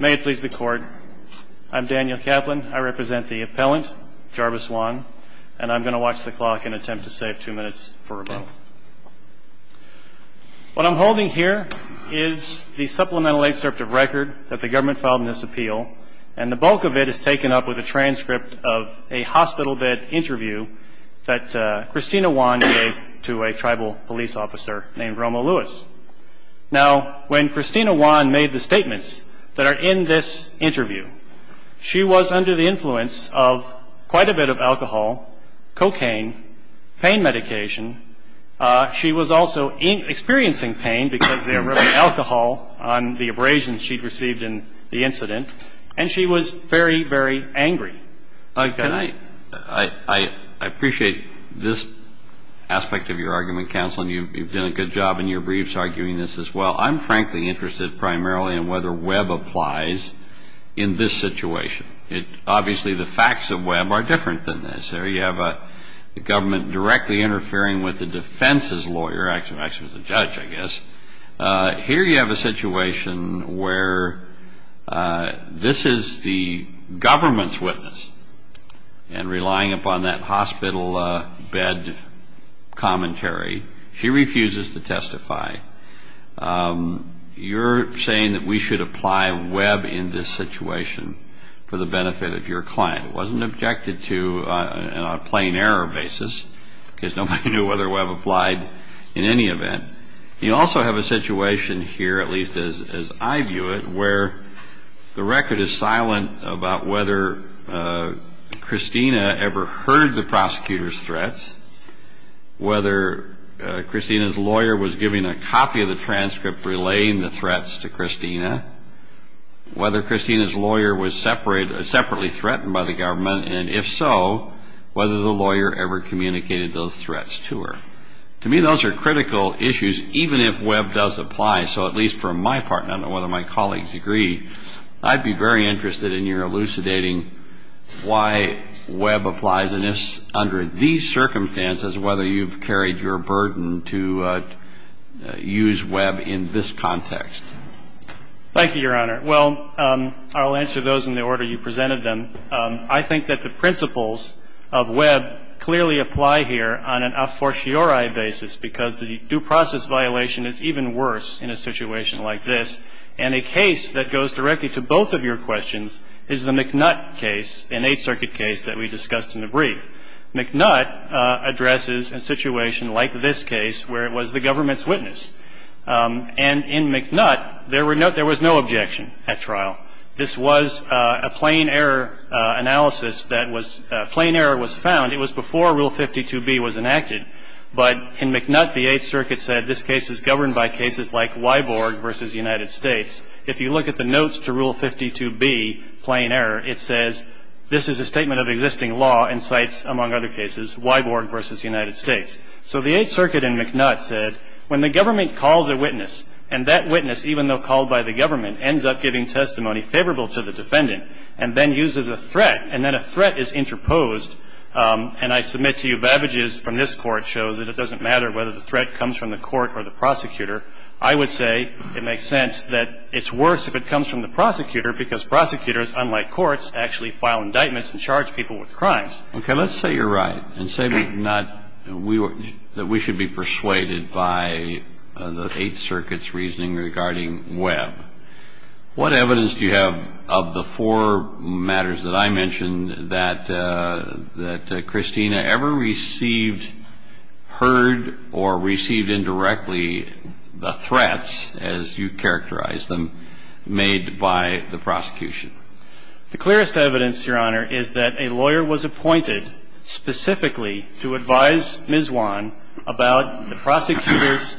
May it please the court. I'm Daniel Kaplan. I represent the appellant, Jarvis Juan, and I'm going to watch the clock and attempt to save two minutes for rebuttal. What I'm holding here is the supplemental excerpt of record that the government filed in this appeal, and the bulk of it is taken up with a transcript of a hospital bed interview that Christina Juan gave to a tribal police officer named Romo Lewis. Now, when Christina Juan made the statements that are in this interview, she was under the influence of quite a bit of alcohol, cocaine, pain medication. She was also experiencing pain because there was alcohol on the abrasions she'd received in the incident, and she was very, very angry. I appreciate this aspect of your argument, counsel, and you've done a good job in your briefs arguing this as well. I'm frankly interested primarily in whether Webb applies in this situation. Obviously, the facts of Webb are different than this. There you have the government directly interfering with the defense's lawyer. Actually, it was the judge, I guess. Here you have a situation where this is the government's witness, and relying upon that hospital bed commentary, she refuses to testify. You're saying that we should apply Webb in this situation for the benefit of your client. It wasn't objected to on a plain error basis because nobody knew whether Webb applied in any event. You also have a situation here, at least as I view it, where the record is silent about whether Christina ever heard the prosecutor's threats, whether Christina's lawyer was giving a copy of the transcript relaying the threats to Christina, whether Christina's lawyer was separately threatened by the government, and if so, whether the lawyer ever communicated those threats to her. To me, those are critical issues, even if Webb does apply. So at least for my part, and I don't know whether my colleagues agree, I'd be very interested in your elucidating why Webb applies, under these circumstances, whether you've carried your burden to use Webb in this context. Thank you, Your Honor. Well, I'll answer those in the order you presented them. I think that the principles of Webb clearly apply here on an a fortiori basis, because the due process violation is even worse in a situation like this. And a case that goes directly to both of your questions is the McNutt case, an Eighth Circuit case that we discussed in the brief. McNutt addresses a situation like this case where it was the government's witness. And in McNutt, there was no objection at trial. This was a plain error analysis that was – a plain error was found. It was before Rule 52B was enacted. But in McNutt, the Eighth Circuit said this case is governed by cases like Weiborg v. United States. If you look at the notes to Rule 52B, plain error, it says, this is a statement of existing law in sites, among other cases, Weiborg v. United States. So the Eighth Circuit in McNutt said, when the government calls a witness, and that witness, even though called by the government, ends up giving testimony favorable to the defendant, and then uses a threat, and then a threat is interposed, and I submit to you vavages from this Court show that it doesn't matter whether the threat comes from the court or the prosecutor, I would say it makes sense that it's worse if it comes from the prosecutor, because prosecutors, unlike courts, actually file indictments and charge people with crimes. Okay. Let's say you're right and say we're not – that we should be persuaded by the Eighth Circuit's reasoning regarding Weib. What evidence do you have of the four matters that I mentioned that Christina ever received, heard or received indirectly the threats, as you characterized them, made by the prosecution? The clearest evidence, Your Honor, is that a lawyer was appointed specifically to advise Ms. Wan about the prosecutor's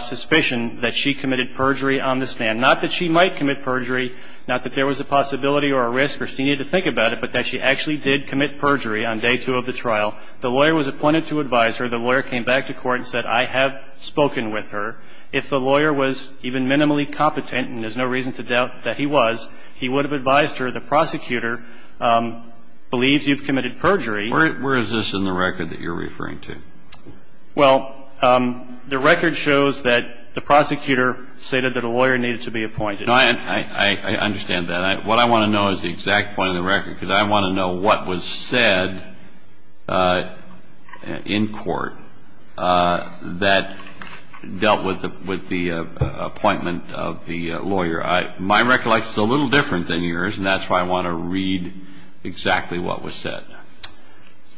suspicion that she committed perjury on the stand, not that she might commit perjury, not that there was a possibility or a risk for Christina to think about it, but that she actually did commit perjury on day two of the trial. The lawyer was appointed to advise her. The lawyer came back to court and said, I have spoken with her. If the lawyer was even minimally competent, and there's no reason to doubt that he was, he would have advised her, the prosecutor believes you've committed perjury. Where is this in the record that you're referring to? Well, the record shows that the prosecutor stated that a lawyer needed to be appointed. No, I understand that. What I want to know is the exact point in the record, because I want to know what was said in court that dealt with the appointment of the lawyer. My recollection is a little different than yours, and that's why I want to read exactly what was said.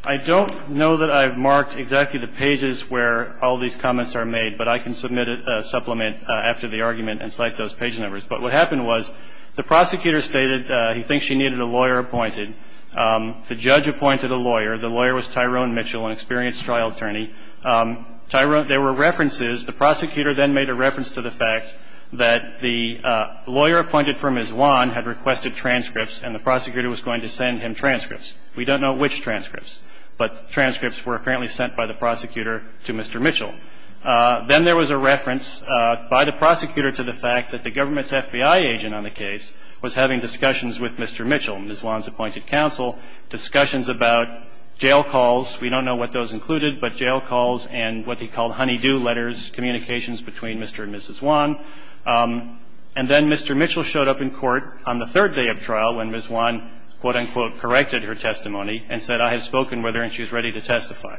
I don't know that I've marked exactly the pages where all these comments are made, but I can submit a supplement after the argument and cite those page numbers. But what happened was the prosecutor stated he thinks she needed a lawyer appointed. The judge appointed a lawyer. The lawyer was Tyrone Mitchell, an experienced trial attorney. Tyrone – there were references. The prosecutor then made a reference to the fact that the lawyer appointed for Ms. Wan had requested transcripts, and the prosecutor was going to send him transcripts. We don't know which transcripts, but transcripts were apparently sent by the prosecutor to Mr. Mitchell. Then there was a reference by the prosecutor to the fact that the government's FBI agent on the case was having discussions with Mr. Mitchell, Ms. Wan's appointed counsel, discussions about jail calls. We don't know what those included, but jail calls and what they called honey-do letters, communications between Mr. and Mrs. Wan. And then Mr. Mitchell showed up in court on the third day of trial when Ms. Wan, quote-unquote, corrected her testimony and said, I have spoken with her and she is ready to testify.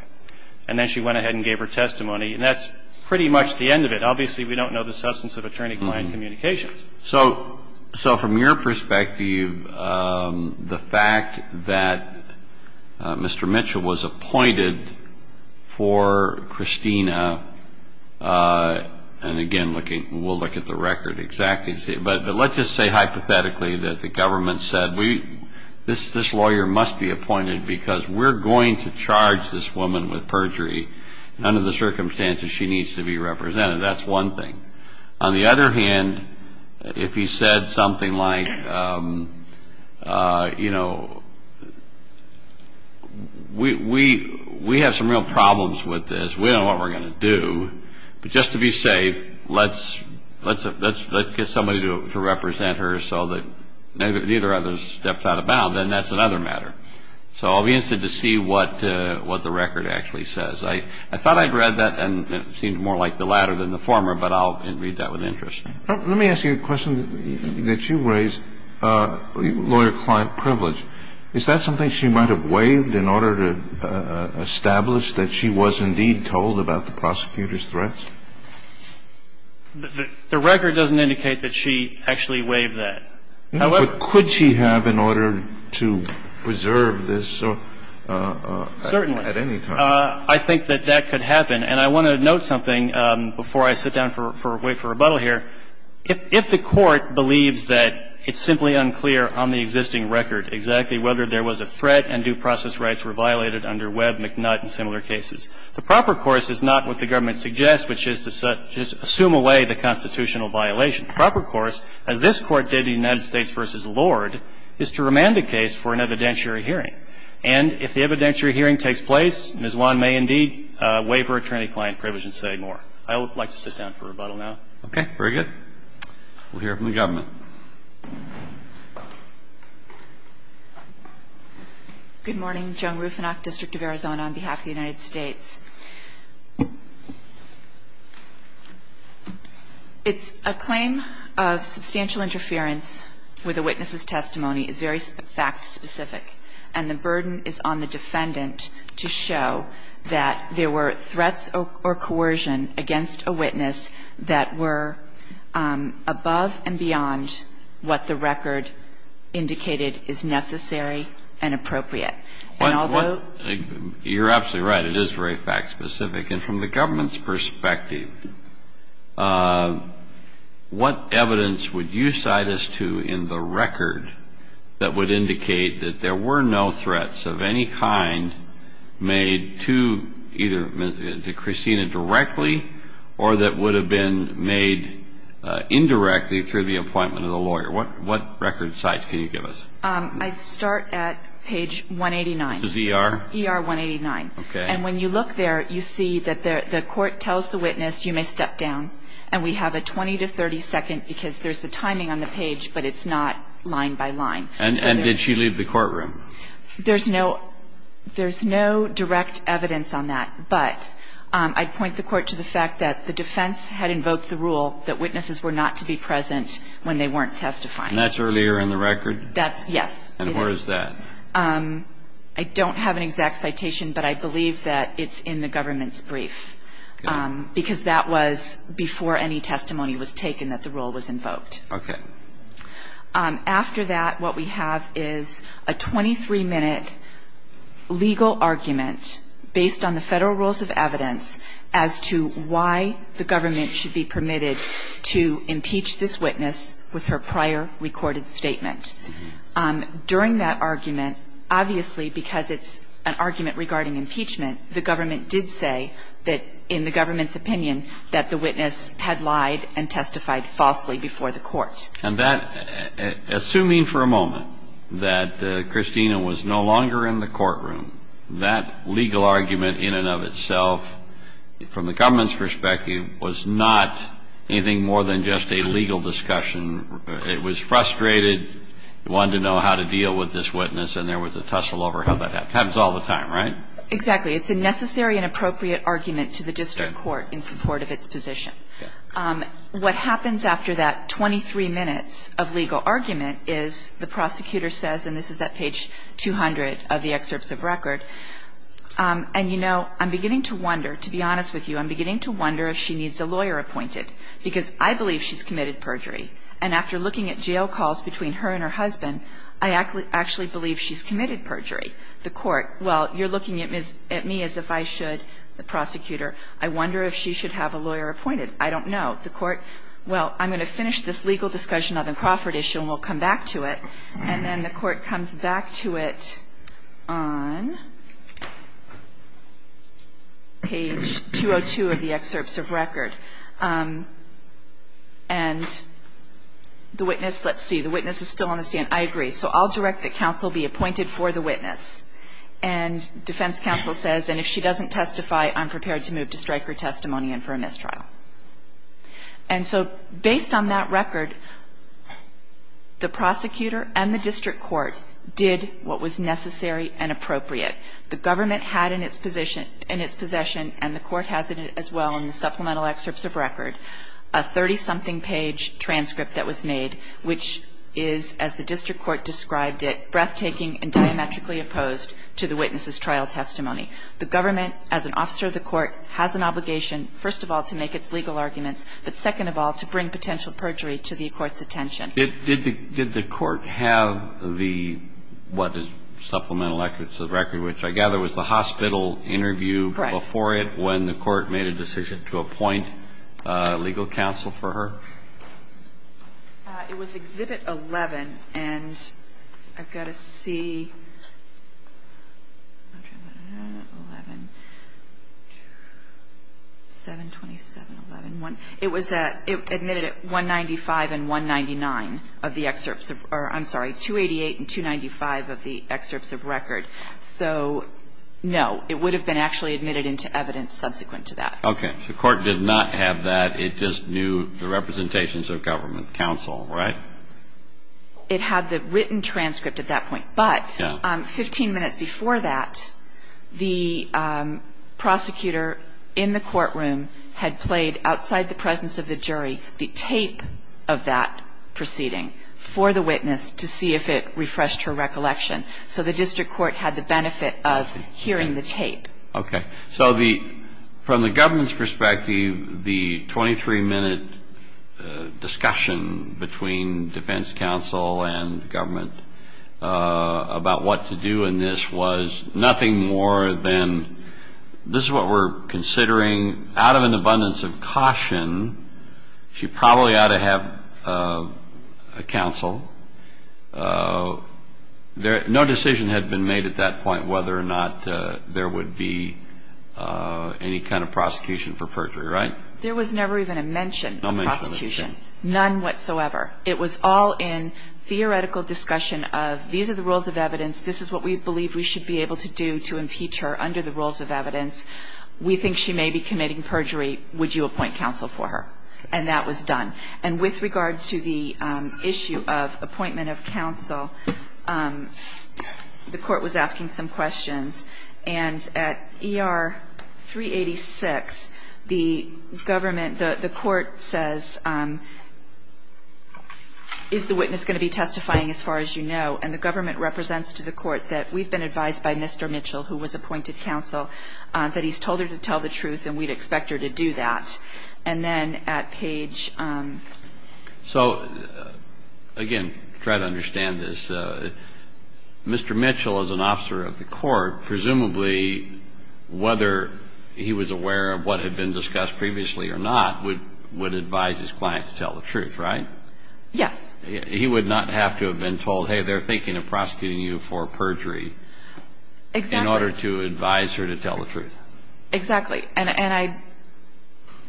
And then she went ahead and gave her testimony. And that's pretty much the end of it. Obviously, we don't know the substance of attorney-client communications. So from your perspective, the fact that Mr. Mitchell was appointed for Christina, and again, we'll look at the record exactly. But let's just say hypothetically that the government said this lawyer must be appointed because we're going to charge this woman with perjury, and under the circumstances, she needs to be represented. That's one thing. On the other hand, if he said something like, you know, we have some real problems with this. We don't know what we're going to do. But just to be safe, let's get somebody to represent her so that neither of us steps out of bounds. And that's another matter. So I'll be interested to see what the record actually says. I thought I'd read that, and it seemed more like the latter than the former, but I'll read that with interest. Let me ask you a question that you raised, lawyer-client privilege. Is that something she might have waived in order to establish that she was indeed told about the prosecutor's threats? The record doesn't indicate that she actually waived that. But could she have in order to preserve this at any time? Well, I think that that could happen. And I want to note something before I sit down and wait for rebuttal here. If the Court believes that it's simply unclear on the existing record exactly whether there was a threat and due process rights were violated under Webb, McNutt and similar cases, the proper course is not what the Government suggests, which is to assume away the constitutional violation. The proper course, as this Court did in the United States v. Lord, is to remand the case for an evidentiary hearing. And if the evidentiary hearing takes place, Ms. Wan may indeed waive her attorney-client privilege and say more. I would like to sit down for rebuttal now. Okay. Very good. We'll hear from the Government. Good morning. Joan Rufinock, District of Arizona, on behalf of the United States. It's a claim of substantial interference where the witness's testimony is very fact-specific and the burden is on the defendant to show that there were threats or coercion against a witness that were above and beyond what the record indicated is necessary and appropriate. And although you're absolutely right, it is very fact-specific. And from the Government's perspective, what evidence would you cite as to in the record that would indicate that there were no threats of any kind made to either Christina directly or that would have been made indirectly through the appointment of the lawyer? What record sites can you give us? I'd start at page 189. This is ER? ER 189. Okay. And when you look there, you see that the court tells the witness, you may step down. And we have a 20 to 30 second, because there's the timing on the page, but it's not line by line. And did she leave the courtroom? There's no direct evidence on that. But I'd point the Court to the fact that the defense had invoked the rule that witnesses were not to be present when they weren't testifying. And that's earlier in the record? That's yes. And where is that? I don't have an exact citation, but I believe that it's in the Government's opinion that the witness was not to be present before any testimony was taken that the rule was invoked. Okay. After that, what we have is a 23-minute legal argument based on the Federal rules of evidence as to why the Government should be permitted to impeach this witness with her prior recorded statement. During that argument, obviously because it's an argument regarding impeachment, the Government did say that in the Government's opinion that the witness had lied and testified falsely before the Court. And that, assuming for a moment that Christina was no longer in the courtroom, that legal argument in and of itself, from the Government's perspective, was not anything more than just a legal discussion. It was frustrated, wanted to know how to deal with this witness, and there was a tussle over how that happened. Happens all the time, right? Exactly. It's a necessary and appropriate argument to the district court in support of its position. What happens after that 23 minutes of legal argument is the prosecutor says, and this is at page 200 of the excerpts of record, and, you know, I'm beginning to wonder, to be honest with you, I'm beginning to wonder if she needs a lawyer appointed, because I believe she's committed perjury. And after looking at jail calls between her and her husband, I actually believe she's committed perjury. The Court, well, you're looking at me as if I should, the prosecutor. I wonder if she should have a lawyer appointed. I don't know. The Court, well, I'm going to finish this legal discussion on the Crawford issue and we'll come back to it. And then the Court comes back to it on page 202 of the excerpts of record. And the witness, let's see, the witness is still on the stand. So I'll direct the counsel to be appointed for the witness. And defense counsel says, and if she doesn't testify, I'm prepared to move to strike her testimony and for a mistrial. And so based on that record, the prosecutor and the district court did what was necessary and appropriate. The government had in its position, in its possession, and the Court has it as well in the supplemental excerpts of record, a 30-something page transcript that was made, which is, as the district court described it, breathtaking and diametrically opposed to the witness's trial testimony. The government, as an officer of the Court, has an obligation, first of all, to make its legal arguments, but second of all, to bring potential perjury to the Court's attention. Did the Court have the, what, the supplemental excerpts of record, which I gather was the hospital interview before it when the Court made a decision to appoint legal counsel for her? It was Exhibit 11. And I've got to see, 11, 727. It was admitted at 195 and 199 of the excerpts of, I'm sorry, 288 and 295 of the excerpts of record. So, no, it would have been actually admitted into evidence subsequent to that. Okay. The Court did not have that. It just knew the representations of government counsel, right? It had the written transcript at that point. But 15 minutes before that, the prosecutor in the courtroom had played, outside the presence of the jury, the tape of that proceeding for the witness to see if it refreshed her recollection. So the district court had the benefit of hearing the tape. Okay. So the, from the government's perspective, the 23-minute discussion between defense counsel and government about what to do in this was nothing more than this is what we're considering. Out of an abundance of caution, she probably ought to have a counsel. No decision had been made at that point whether or not there would be any kind of prosecution for perjury, right? There was never even a mention of prosecution. None whatsoever. It was all in theoretical discussion of these are the rules of evidence, this is what we believe we should be able to do to impeach her under the rules of evidence. We think she may be committing perjury. Would you appoint counsel for her? And that was done. And with regard to the issue of appointment of counsel, the court was asking some questions. And at ER 386, the government, the court says, is the witness going to be testifying as far as you know? And the government represents to the court that we've been advised by Mr. Mitchell, who was appointed counsel, that he's told her to tell the truth and we'd expect her to do that. And the fact is that the court hasn't questioned them. And at page 386, the defense's office has testified to that. And then at page reich. So, again, to try to understand this, Mr. Mitchell is an officer of the court. Presumably, whether he was aware of what had been discussed previously or not, would advise his client to tell the truth, right? Yes. He would not have to have been told, hey, they're thinking of prosecuting you for perjury. Exactly. In order to advise her to tell the truth. Exactly. And I,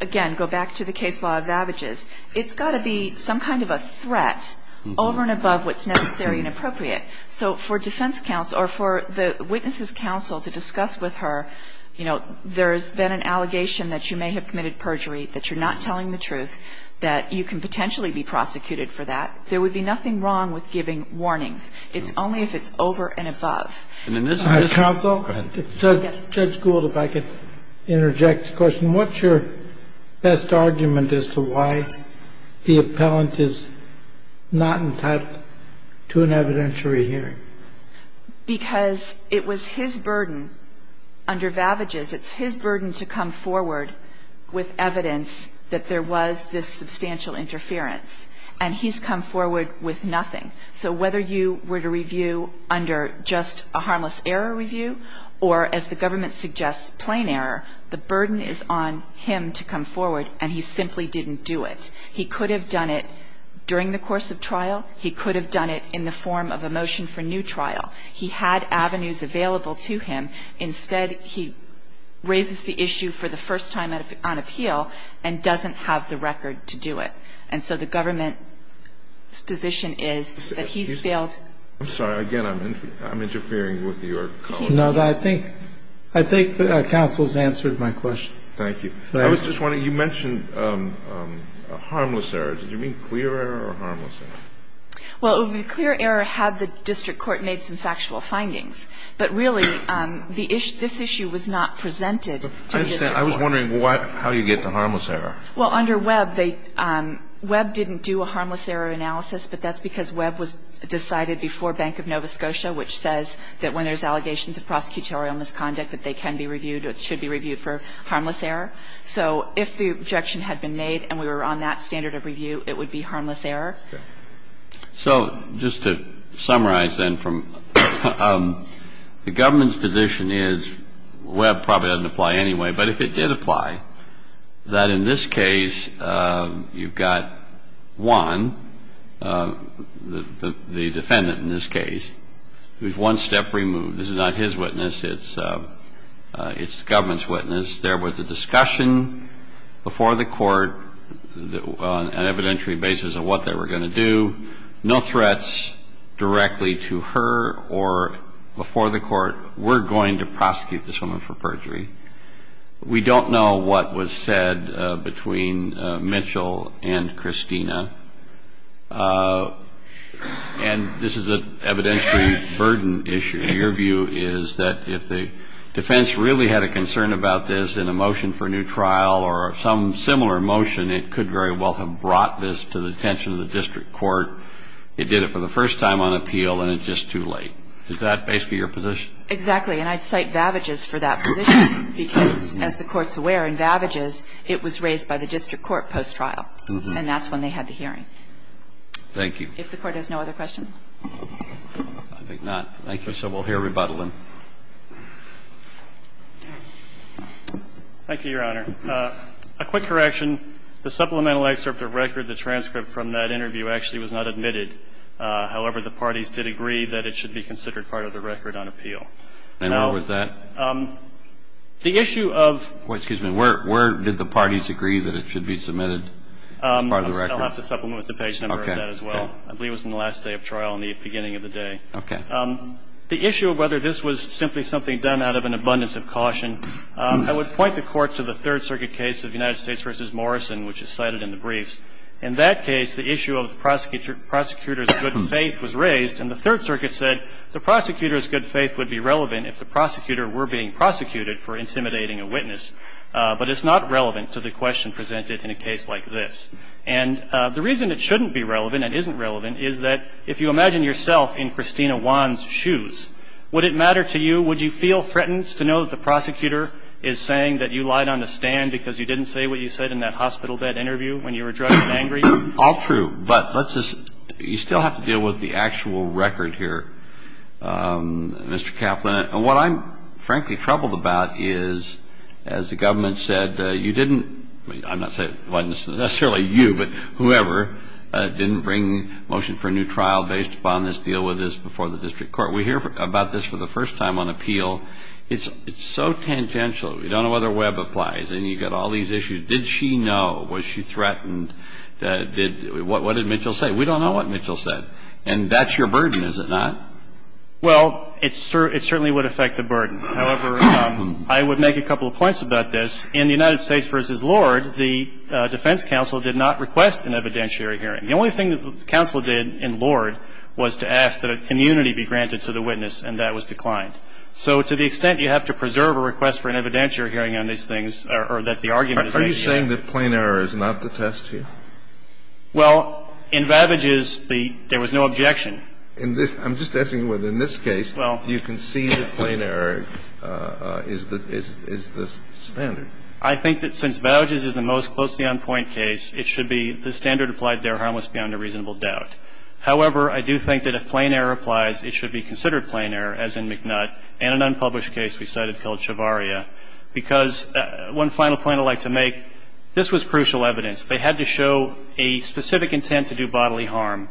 again, go back to the case law of avages. It's got to be some kind of a threat over and above what's necessary and appropriate. So for defense counsel, or for the witness's counsel to discuss with her, you know, there's been an allegation that you may have committed perjury, that you're not telling the truth, that you can potentially be prosecuted for that. There would be nothing wrong with giving warnings. It's only if it's over and above. Counsel? Go ahead. Judge Gould, if I could interject a question. What's your best argument as to why the appellant is not entitled to an evidentiary hearing? Because it was his burden under vavages. It's his burden to come forward with evidence that there was this substantial interference. And he's come forward with nothing. So whether you were to review under just a harmless error review or, as the government suggests, plain error, the burden is on him to come forward, and he simply didn't do it. He could have done it during the course of trial. He could have done it in the form of a motion for new trial. He had avenues available to him. Instead, he raises the issue for the first time on appeal and doesn't have the record to do it. And so the government's position is that he's failed. I'm sorry. Again, I'm interfering with your comment. No, I think counsel's answered my question. Thank you. I was just wondering, you mentioned a harmless error. Did you mean clear error or harmless error? Well, a clear error had the district court made some factual findings. But really, this issue was not presented to the district court. I understand. I was wondering how you get to harmless error. Well, under Webb, Webb didn't do a harmless error analysis, but that's because Webb was decided before Bank of Nova Scotia, which says that when there's allegations of prosecutorial misconduct, that they can be reviewed or should be reviewed for harmless error. So if the objection had been made and we were on that standard of review, it would be harmless error. So just to summarize then from the government's position is, Webb probably doesn't apply anyway, but if it did apply, that in this case you've got one, the defendant in this case, who's one step removed. This is not his witness. It's the government's witness. There was a discussion before the court on an evidentiary basis of what they were going to do. We don't know what was said between Mitchell and Christina. And this is an evidentiary burden issue. Your view is that if the defense really had a concern about this in a motion for a new trial or some similar motion, it could very well have brought this to the attention of the district court. And it's not that the district court has no concern about this. it would have brought this to the attention of the district court. It did it for the first time on appeal, and it's just too late. Is that basically your position? Exactly. And I'd cite Vavages for that position, because, as the Court's aware, in Vavages, it was raised by the district court post-trial. And that's when they had the hearing. Thank you. If the Court has no other questions. I think not. Thank you. So we'll hear rebuttal in. Thank you, Your Honor. A quick correction. The supplemental excerpt of record, the transcript from that interview actually was not admitted. However, the parties did agree that it should be considered part of the record on appeal. Now the issue of the issue of where did the parties agree that it should be submitted I'll have to supplement with the page number of that as well. I believe it was in the last day of trial in the beginning of the day. Okay. The issue of whether this was simply something done out of an abundance of caution. I would point the Court to the Third Circuit case of United States versus Morrison, which is cited in the briefs. In that case, the issue of the prosecutor's good faith was raised. And the Third Circuit said the prosecutor's good faith would be relevant if the prosecutor were being prosecuted for intimidating a witness. But it's not relevant to the question presented in a case like this. And the reason it shouldn't be relevant and isn't relevant is that if you imagine yourself in Christina Wan's shoes, would it matter to you, would you feel threatened to know that the prosecutor is saying that you lied on the stand because you didn't say what you said in that hospital bed interview when you were drunk and angry? All true. But let's just you still have to deal with the actual record here, Mr. Kaplan. And what I'm frankly troubled about is, as the government said, you didn't – I'm not saying it wasn't necessarily you, but whoever didn't bring motion for a new trial based upon this deal with us before the district court. We hear about this for the first time on appeal. It's so tangential. We don't know whether Webb applies. And you've got all these issues. Did she know? Was she threatened? What did Mitchell say? We don't know what Mitchell said. And that's your burden, is it not? Well, it certainly would affect the burden. However, I would make a couple of points about this. In the United States v. Lord, the defense counsel did not request an evidentiary hearing. The only thing that the counsel did in Lord was to ask that immunity be granted to the witness, and that was declined. So to the extent you have to preserve a request for an evidentiary hearing on these things, or that the argument is made here. Are you saying that plain error is not the test here? Well, in Vavage's, there was no objection. I'm just asking whether in this case you can see that plain error is the standard. I think that since Vavage's is the most closely on point case, it should be the standard applied there harmless beyond a reasonable doubt. However, I do think that if plain error applies, it should be considered plain error, as in McNutt, and an unpublished case we cited called Chavarria. Because one final point I'd like to make, this was crucial evidence. They had to show a specific intent to do bodily harm.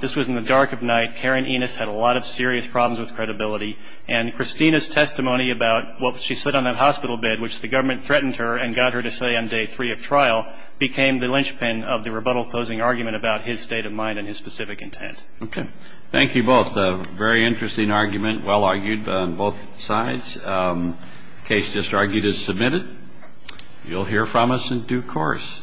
This was in the dark of night. Karen Enos had a lot of serious problems with credibility. And Christina's testimony about what she said on that hospital bed, which the government threatened her and got her to say on day three of trial, became the linchpin of the rebuttal closing argument about his state of mind and his specific intent. Okay. Thank you both. A very interesting argument, well argued on both sides. The case just argued is submitted. You'll hear from us in due course.